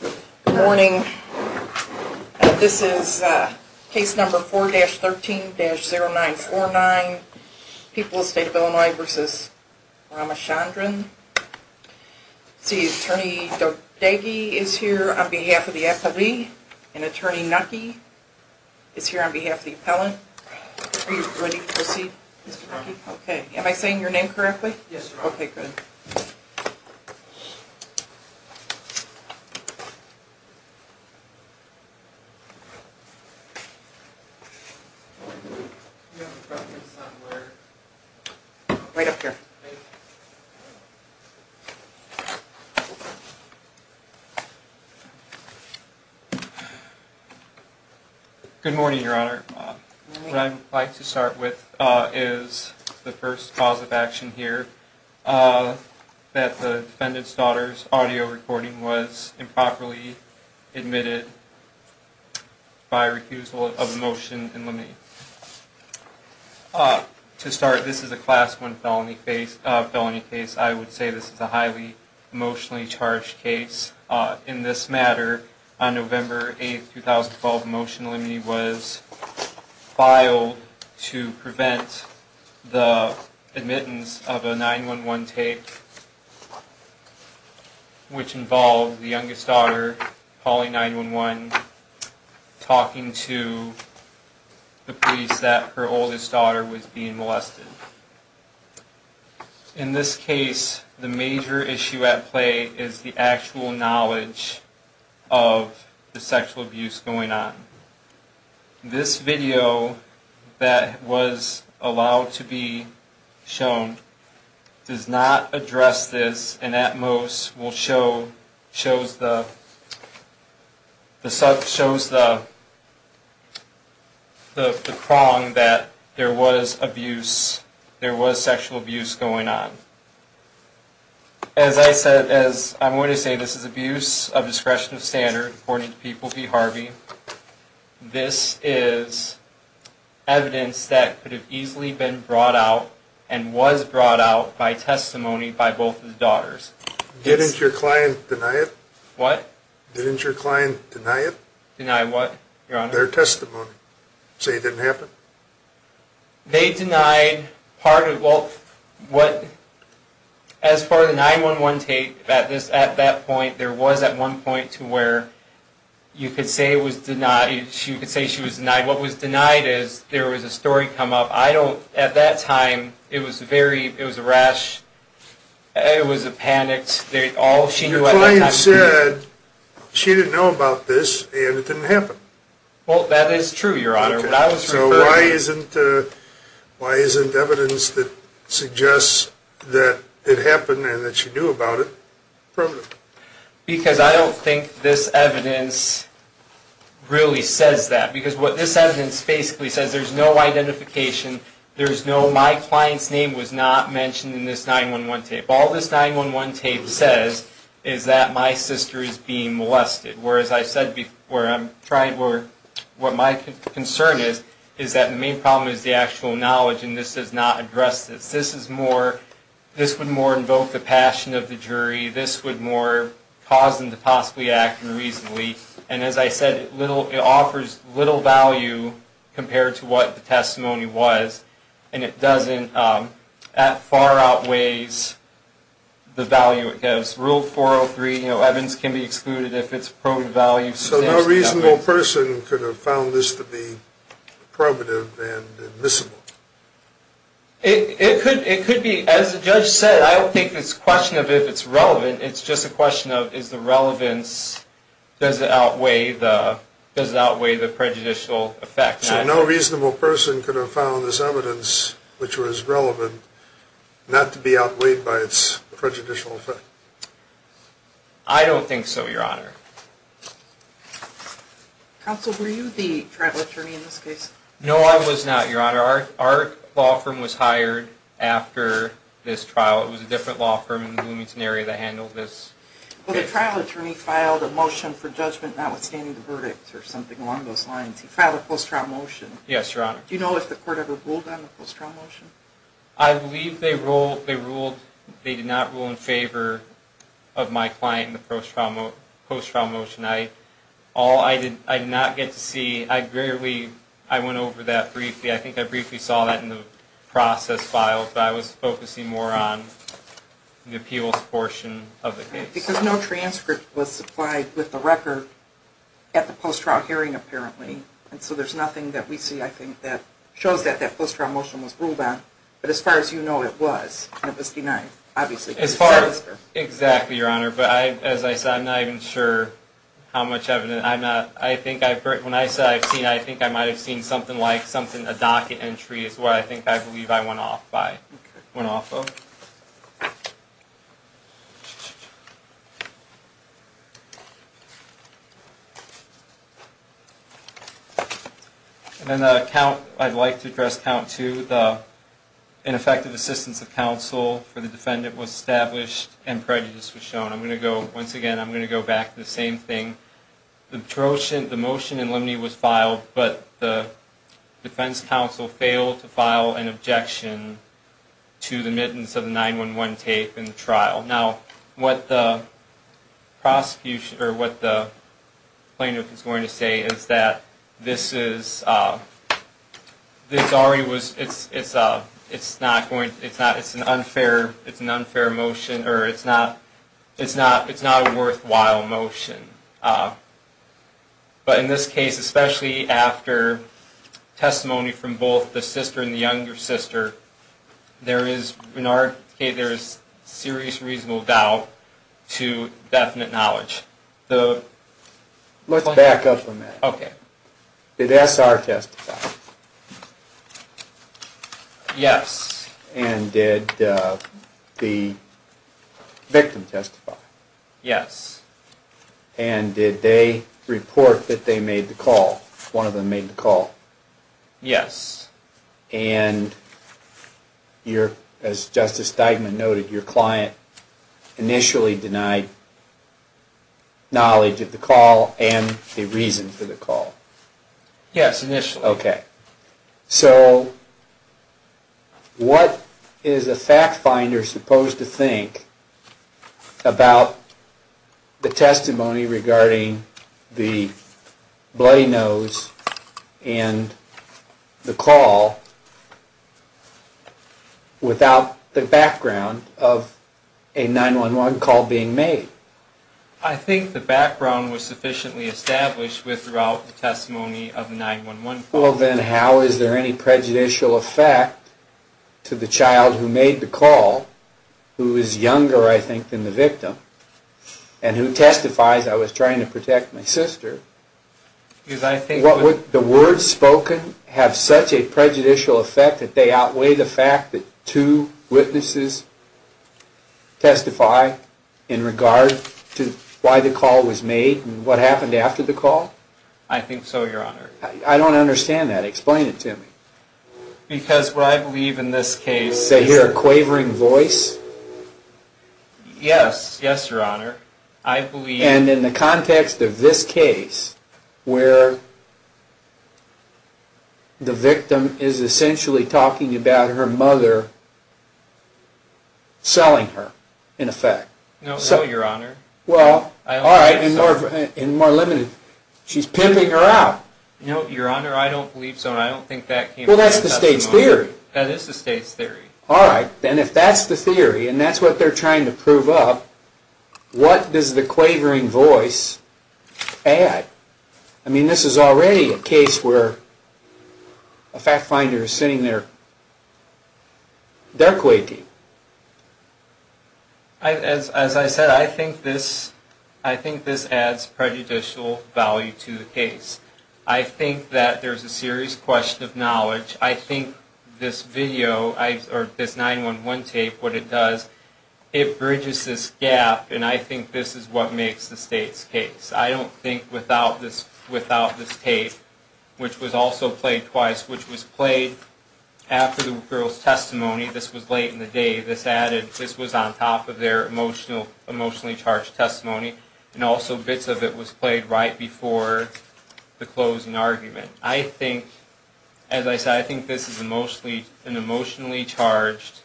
Good morning. This is case number 4-13-0949, People's State of Illinois v. Ramachandran. See, Attorney Dodeghi is here on behalf of the appellee and Attorney Naki is here on behalf of the appellant. Are you ready to proceed, Mr. Naki? Am I saying your name correctly? Yes, ma'am. Okay, good. Right up here. Good morning, Your Honor. Good morning. What I'd like to start with is the first cause of action here, that the defendant's daughter's audio recording was improperly admitted by refusal of a motion in limine. To start, this is a Class 1 felony case. I would say this is a highly emotionally charged case. In this matter, on November 8, 2012, a motion in limine was filed to prevent the admittance of a 911 take, which involved the youngest daughter calling 911, talking to the police that her oldest daughter was being molested. In this case, the major issue at play is the actual knowledge of the sexual abuse going on. This video that was allowed to be shown does not address this and at most shows the prong that there was abuse, there was sexual abuse going on. As I said, as I'm going to say, this is abuse of discretion of standard, according to People v. Harvey. This is evidence that could have easily been brought out and was brought out by testimony by both of the daughters. Didn't your client deny it? What? Didn't your client deny it? Deny what, Your Honor? Their testimony. Say it didn't happen. They denied part of what, as far as the 911 take at that point, there was at one point to where you could say it was denied, you could say she was denied. What was denied is there was a story come up. I don't, at that time, it was a rash, it was a panic. Your client said she didn't know about this and it didn't happen. Well, that is true, Your Honor. So why isn't evidence that suggests that it happened and that she knew about it, proven? Because I don't think this evidence really says that. Because what this evidence basically says, there's no identification, there's no, my client's name was not mentioned in this 911 tape. All this 911 tape says is that my sister is being molested. Whereas I said before, what my concern is, is that the main problem is the actual knowledge and this does not address this. This is more, this would more invoke the passion of the jury. This would more cause them to possibly act more reasonably. And as I said, it offers little value compared to what the testimony was. And it doesn't, far outweighs the value it gives. Rule 403, evidence can be excluded if it's proven value. So no reasonable person could have found this to be probative and admissible? It could be. As the judge said, I don't think it's a question of if it's relevant. It's just a question of is the relevance, does it outweigh the prejudicial effect. So no reasonable person could have found this evidence which was relevant not to be outweighed by its prejudicial effect? I don't think so, Your Honor. Counsel, were you the trial attorney in this case? No, I was not, Your Honor. Our law firm was hired after this trial. It was a different law firm in the Bloomington area that handled this case. Well, the trial attorney filed a motion for judgment notwithstanding the verdict or something along those lines. He filed a post-trial motion. Yes, Your Honor. Do you know if the court ever ruled on the post-trial motion? I believe they ruled. They did not rule in favor of my client in the post-trial motion. All I did not get to see, I went over that briefly. I think I briefly saw that in the process file, but I was focusing more on the appeals portion of the case. Because no transcript was supplied with the record at the post-trial hearing, apparently. So there's nothing that we see, I think, that shows that that post-trial motion was ruled on. But as far as you know, it was. It was denied, obviously. Exactly, Your Honor. But as I said, I'm not even sure how much evidence. When I said I've seen it, I think I might have seen something like a docket entry is what I think I believe I went off of. And then the count, I'd like to address count two. The ineffective assistance of counsel for the defendant was established and prejudice was shown. I'm going to go, once again, I'm going to go back to the same thing. The motion in limine was filed, but the defense counsel failed to file an objection to the mittens of the 911 tape in the trial. Now, what the prosecution, or what the plaintiff is going to say is that this is, this already was, it's not going, it's not, it's an unfair, it's an unfair motion, or it's not, it's not, it's not a worthwhile motion. But in this case, especially after testimony from both the sister and the younger sister, there is, in our case, there is serious reasonable doubt to definite knowledge. Let's back up a minute. Okay. Did SR testify? Yes. And did the victim testify? Yes. And did they report that they made the call, one of them made the call? Yes. And your, as Justice Steigman noted, your client initially denied knowledge of the call and the reason for the call. Yes, initially. Okay. So, what is a fact finder supposed to think about the testimony regarding the bloody nose and the call without the background of a 911 call being made? I think the background was sufficiently established throughout the testimony of the 911 call. Well, then how is there any prejudicial effect to the child who made the call, who is younger, I think, than the victim, and who testifies, I was trying to protect my sister. The words spoken have such a prejudicial effect that they outweigh the fact that two witnesses testify in regard to why the call was made and what happened after the call? I think so, Your Honor. I don't understand that. Explain it to me. Because what I believe in this case... They hear a quavering voice? Yes. Yes, Your Honor. And in the context of this case, where the victim is essentially talking about her mother selling her, in effect. No, Your Honor. Well, all right, and more limited, she's pimping her out. No, Your Honor, I don't believe so. Well, that's the state's theory. That is the state's theory. All right, then if that's the theory, and that's what they're trying to prove up, what does the quavering voice add? I mean, this is already a case where a fact finder is sitting there, they're quaking. As I said, I think this adds prejudicial value to the case. I think that there's a serious question of knowledge. I think this video, or this 911 tape, what it does, it bridges this gap, and I think this is what makes the state's case. I don't think without this tape, which was also played twice, which was played after the girl's testimony. This was late in the day. This was on top of their emotionally charged testimony. And also bits of it was played right before the closing argument. I think, as I said, I think this is an emotionally charged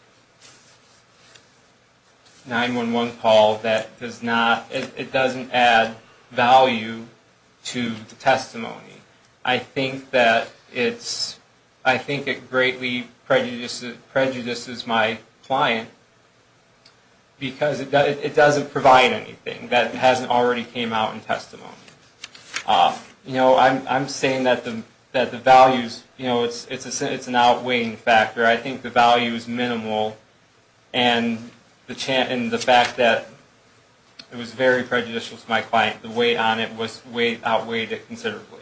911 call that does not, it doesn't add value to the testimony. I think that it's, I think it greatly prejudices my client because it doesn't provide anything that hasn't already came out in testimony. You know, I'm saying that the values, you know, it's an outweighing factor. I think the value is minimal, and the fact that it was very prejudicial to my client, the weight on it, outweighed it considerably.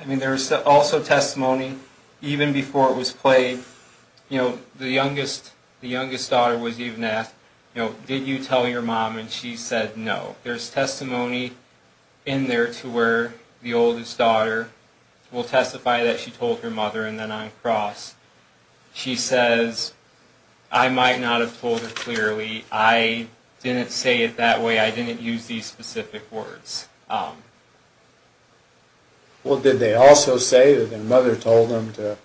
I mean, there was also testimony even before it was played. You know, the youngest, the youngest daughter was even asked, you know, did you tell your mom, and she said no. There's testimony in there to where the oldest daughter will testify that she told her mother, and then on cross, she says, I might not have told her clearly. I didn't say it that way. I didn't use these specific words. Well, did they also say that their mother told them to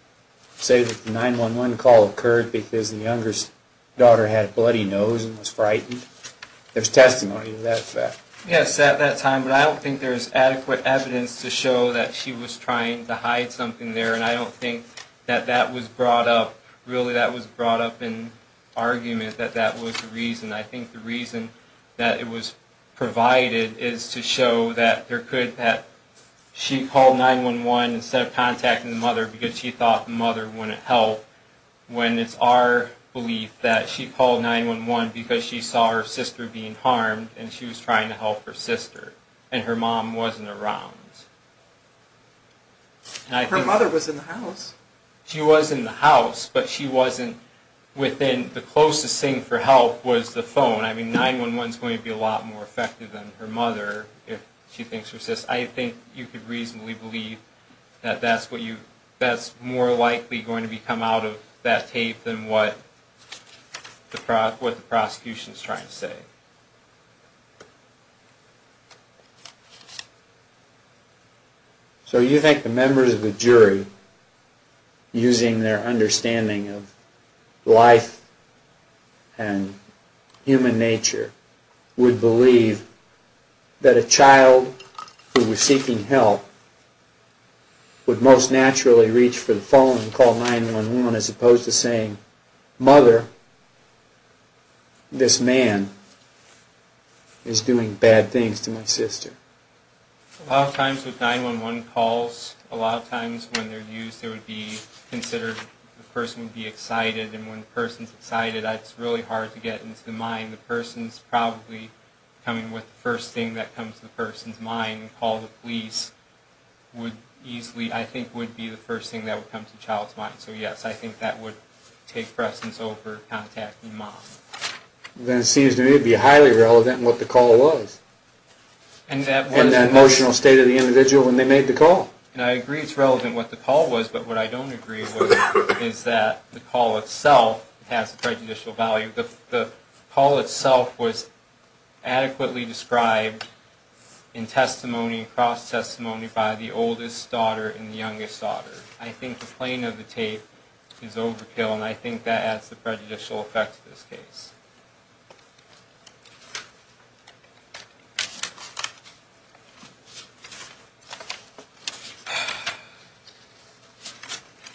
say that the 911 call occurred because the youngest daughter had a bloody nose and was frightened? There's testimony to that fact. Yes, at that time, but I don't think there's adequate evidence to show that she was trying to hide something there, and I don't think that that was brought up, really that was brought up in argument that that was the reason. I think the reason that it was provided is to show that there could, that she called 911 instead of contacting the mother because she thought the mother wouldn't help, when it's our belief that she called 911 because she saw her sister being harmed and she was trying to help her sister, and her mom wasn't around. Her mother was in the house. She was in the house, but she wasn't within, the closest thing for help was the phone. I mean, 911's going to be a lot more effective than her mother if she thinks her sister, I think you could reasonably believe that that's what you, that's more likely going to come out of that tape than what the prosecution's trying to say. So you think the members of the jury, using their understanding of life and human nature, would believe that a child who was seeking help would most naturally reach for the phone and call 911 as opposed to saying, mother, this man is doing bad things to my sister. A lot of times with 911 calls, a lot of times when they're used, it would be considered the person would be excited, and when the person's excited, it's really hard to get into the mind. The person's probably coming with the first thing that comes to the person's mind. So, yes, I think that would take precedence over contacting mom. Then it seems to me it would be highly relevant what the call was. And that emotional state of the individual when they made the call. And I agree it's relevant what the call was, but what I don't agree with is that the call itself has prejudicial value. The call itself was adequately described in testimony, in cross-testimony, by the oldest daughter and the youngest daughter. I think the plane of the tape is overkill, and I think that adds the prejudicial effect to this case.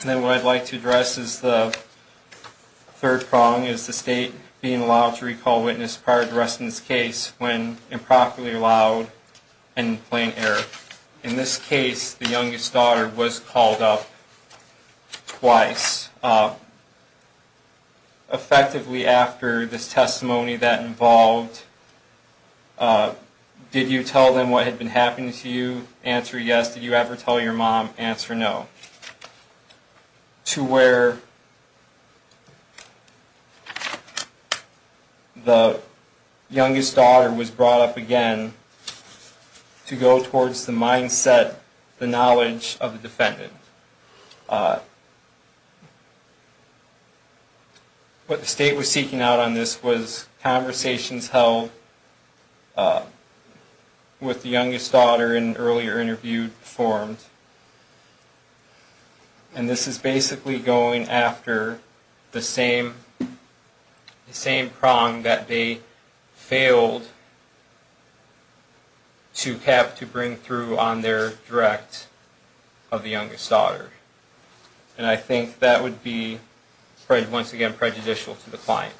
And then what I'd like to address is the third prong, is the state being allowed to recall witness prior to arresting this case when improperly allowed and in plain error. In this case, the youngest daughter was called up twice. And the testimony that involved, did you tell them what had been happening to you? Answer, yes. Did you ever tell your mom? Answer, no. To where the youngest daughter was brought up again to go towards the mindset, the knowledge of the defendant. What the state was seeking out on this was conversations held with the youngest daughter in earlier interview performed. And this is basically going after the same prong that they failed to have to bring through on their direct of the youngest daughter. And I think that would be, once again, prejudicial to the client.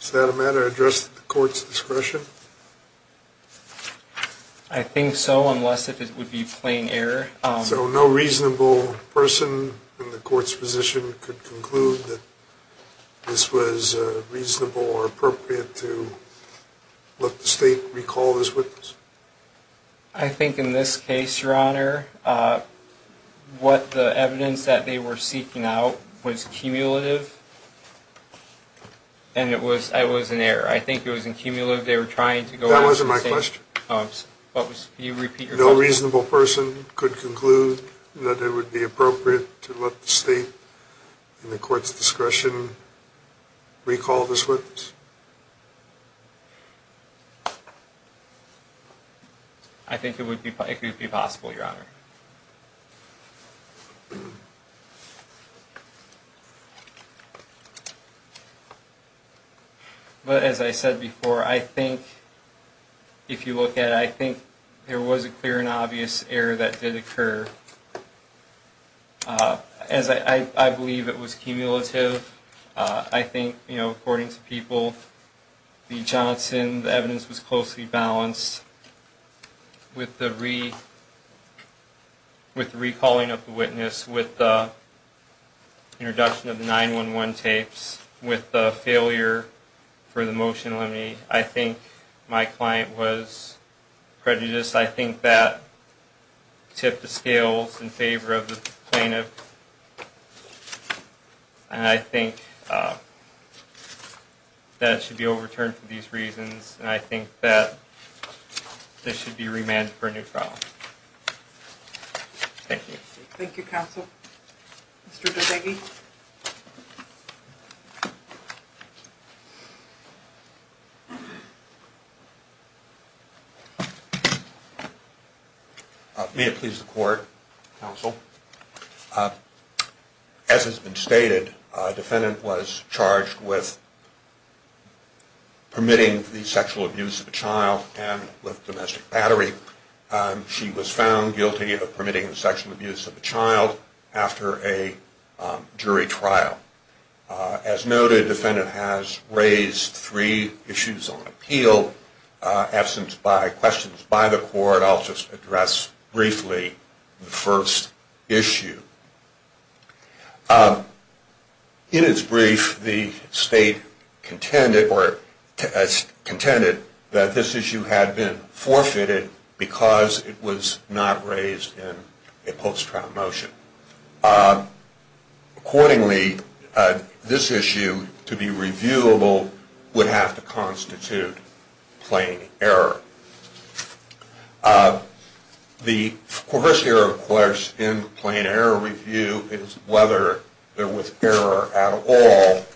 Is that a matter addressed at the court's discretion? I think so, unless it would be plain error. So no reasonable person in the court's position could conclude that this was reasonable or appropriate to let the state recall this witness? I think in this case, Your Honor, what the evidence that they were seeking out was cumulative, and it was an error. I think it was accumulative. That wasn't my question. No reasonable person could conclude that it would be appropriate to let the state, in the court's discretion, recall this witness? I think it would be possible, Your Honor. But as I said before, I think, if you look at it, I think there was a clear and obvious error that did occur. I believe it was cumulative. I think, you know, according to people, the Johnson, the evidence was closely balanced with the Reed. With the recalling of the witness, with the introduction of the 911 tapes, with the failure for the motion to eliminate, I think my client was prejudiced. I think that tipped the scales in favor of the plaintiff. And I think that it should be overturned for these reasons, and I think that this should be remanded for a new trial. Thank you. Thank you, counsel. Mr. Dodeghi? May it please the court, counsel. As has been stated, a defendant was charged with permitting the sexual abuse of a child and with domestic battery. She was found guilty of permitting the sexual abuse of a child after a jury trial. As noted, the defendant has raised three issues on appeal. Absence by questions by the court, I'll just address briefly the first issue. In its brief, the state contended that this issue had been forfeited by the state. Because it was not raised in a post-trial motion. Accordingly, this issue, to be reviewable, would have to constitute plain error. The first error, of course, in the plain error review is whether there was error at all.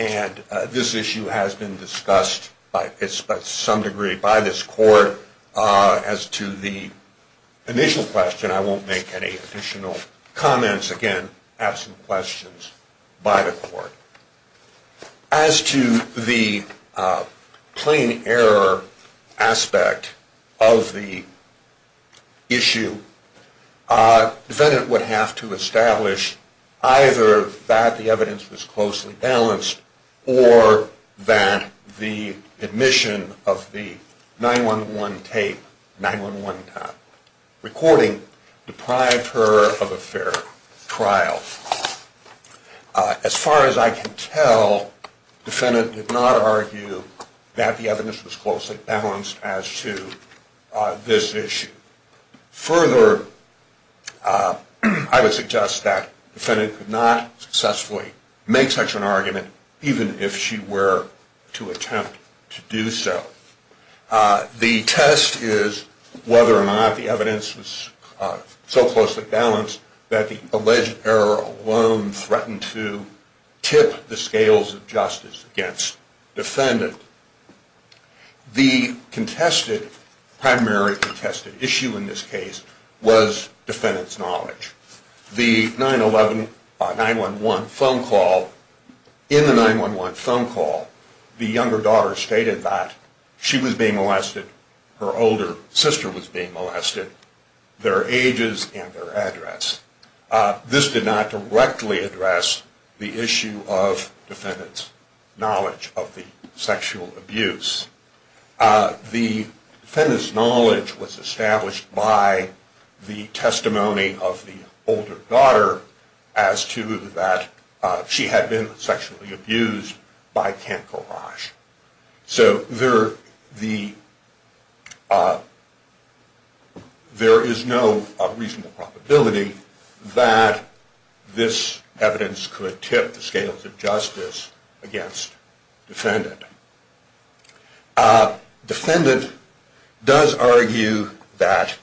And this issue has been discussed by some degree by this court. As to the initial question, I won't make any additional comments. Again, absent questions by the court. As to the plain error aspect of the issue, the defendant would have to establish either that the evidence was closely balanced, or that the admission of the 9-1-1 tape, 9-1-1 recording, deprived her of a fair trial. As far as I can tell, the defendant did not argue that the evidence was closely balanced as to this issue. Further, I would suggest that the defendant could not successfully make such an argument even if she were to attempt to do so. The test is whether or not the evidence was so closely balanced that the alleged error alone threatened to tip the scales of justice against the defendant. The primary contested issue in this case was defendant's knowledge. The 9-1-1 phone call, in the 9-1-1 phone call, the younger daughter stated that she was being molested, her older sister was being molested, their ages, and their address. This did not directly address the issue of defendant's knowledge of the sexual abuse. The defendant's knowledge was established by the testimony of the older daughter as to that she had been sexually abused by Kent Korosh. There is no reasonable probability that this evidence could tip the scales of justice against the defendant. Defendant does argue that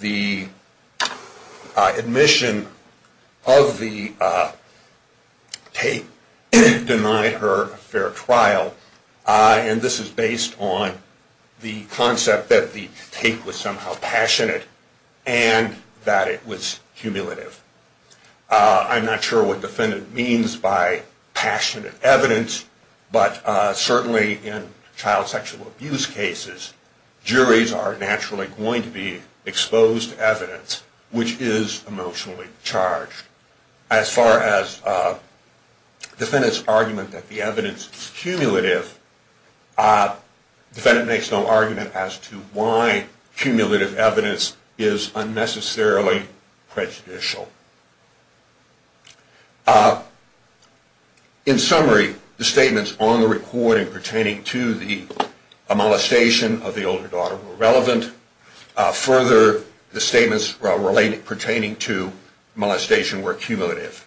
the admission of the tape denied her a fair trial, and this is based on the concept that the tape was somehow passionate and that it was cumulative. I'm not sure what defendant means by passionate evidence, but certainly in child sexual abuse cases, juries are naturally going to be exposed to evidence which is emotionally charged. As far as defendant's argument that the evidence is cumulative, defendant makes no argument as to why cumulative evidence is unnecessarily prejudicial. In summary, the statements on the recording pertaining to the molestation of the older daughter were relevant. Further, the statements pertaining to molestation were cumulative.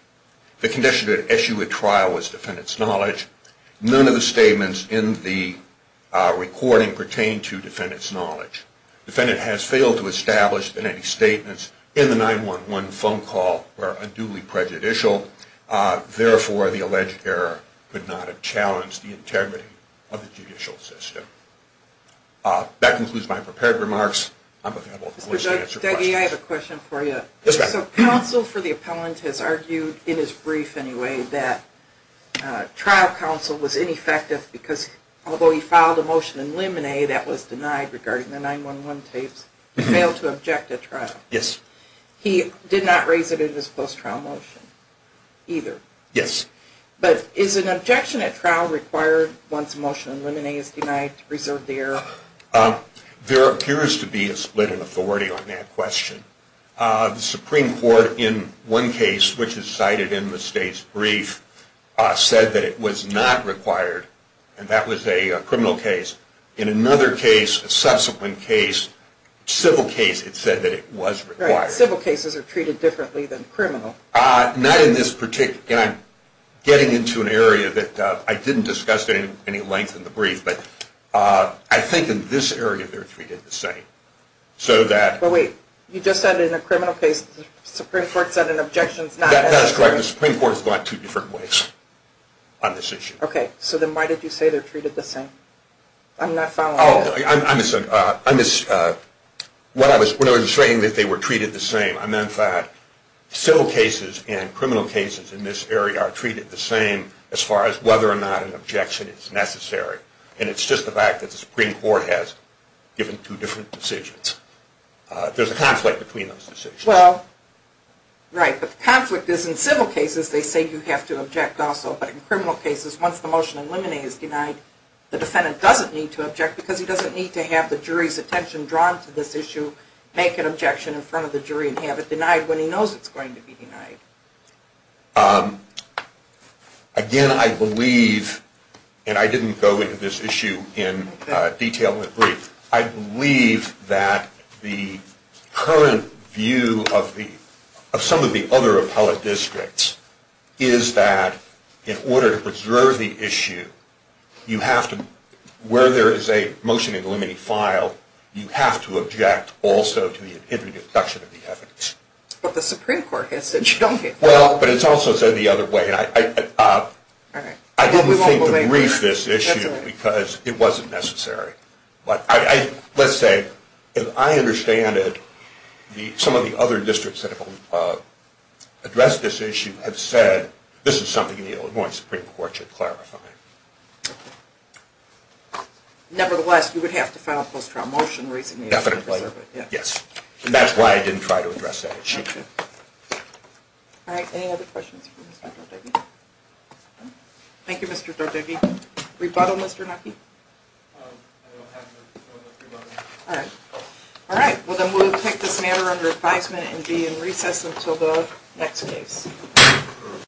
The condition to issue a trial was defendant's knowledge. None of the statements in the recording pertain to defendant's knowledge. Defendant has failed to establish that any statements in the 911 phone call were unduly prejudicial. Therefore, the alleged error could not have challenged the integrity of the judicial system. That concludes my prepared remarks. I'm available for questions. Counsel for the appellant has argued, in his brief anyway, that trial counsel was ineffective because although he filed a motion in limine that was denied regarding the 911 tapes, he failed to object at trial. He did not raise it in his post-trial motion either. Is an objection at trial required once a motion in limine is denied to preserve the error? There appears to be a split in authority on that question. The Supreme Court in one case, which is cited in the state's brief, said that it was not required, and that was a criminal case. In another case, a subsequent case, civil case, it said that it was required. Civil cases are treated differently than criminal. I'm getting into an area that I didn't discuss at any length in the brief, but I think in this area they're treated the same. But wait, you just said in a criminal case the Supreme Court said an objection is not necessary. That's correct. The Supreme Court has gone two different ways on this issue. So then why did you say they're treated the same? When I was saying that they were treated the same, I meant that civil cases and criminal cases in this area are treated the same as far as whether or not an objection is necessary. And it's just the fact that the Supreme Court has given two different decisions. There's a conflict between those decisions. Right, but the conflict is in civil cases they say you have to object also, but in criminal cases, once the motion in limine is denied, the defendant doesn't need to object Again, I believe, and I didn't go into this issue in detail in the brief, I believe that the current view of some of the other appellate districts is that in order to preserve the issue, where there is a motion in limine filed, you have to object also to the introduction of the evidence. But the Supreme Court has said you don't need to. Well, but it's also said the other way. I didn't think to brief this issue because it wasn't necessary. Let's say, as I understand it, some of the other districts that have addressed this issue have said this is something the Illinois Supreme Court should clarify. Nevertheless, you would have to file a post-trial motion recently to preserve it. Definitely, yes. And that's why I didn't try to address that issue. Alright, any other questions for Mr. Dordogne? Thank you, Mr. Dordogne. Rebuttal, Mr. Nucky? Alright, well then we'll take this matter under advisement and be in recess until the next case.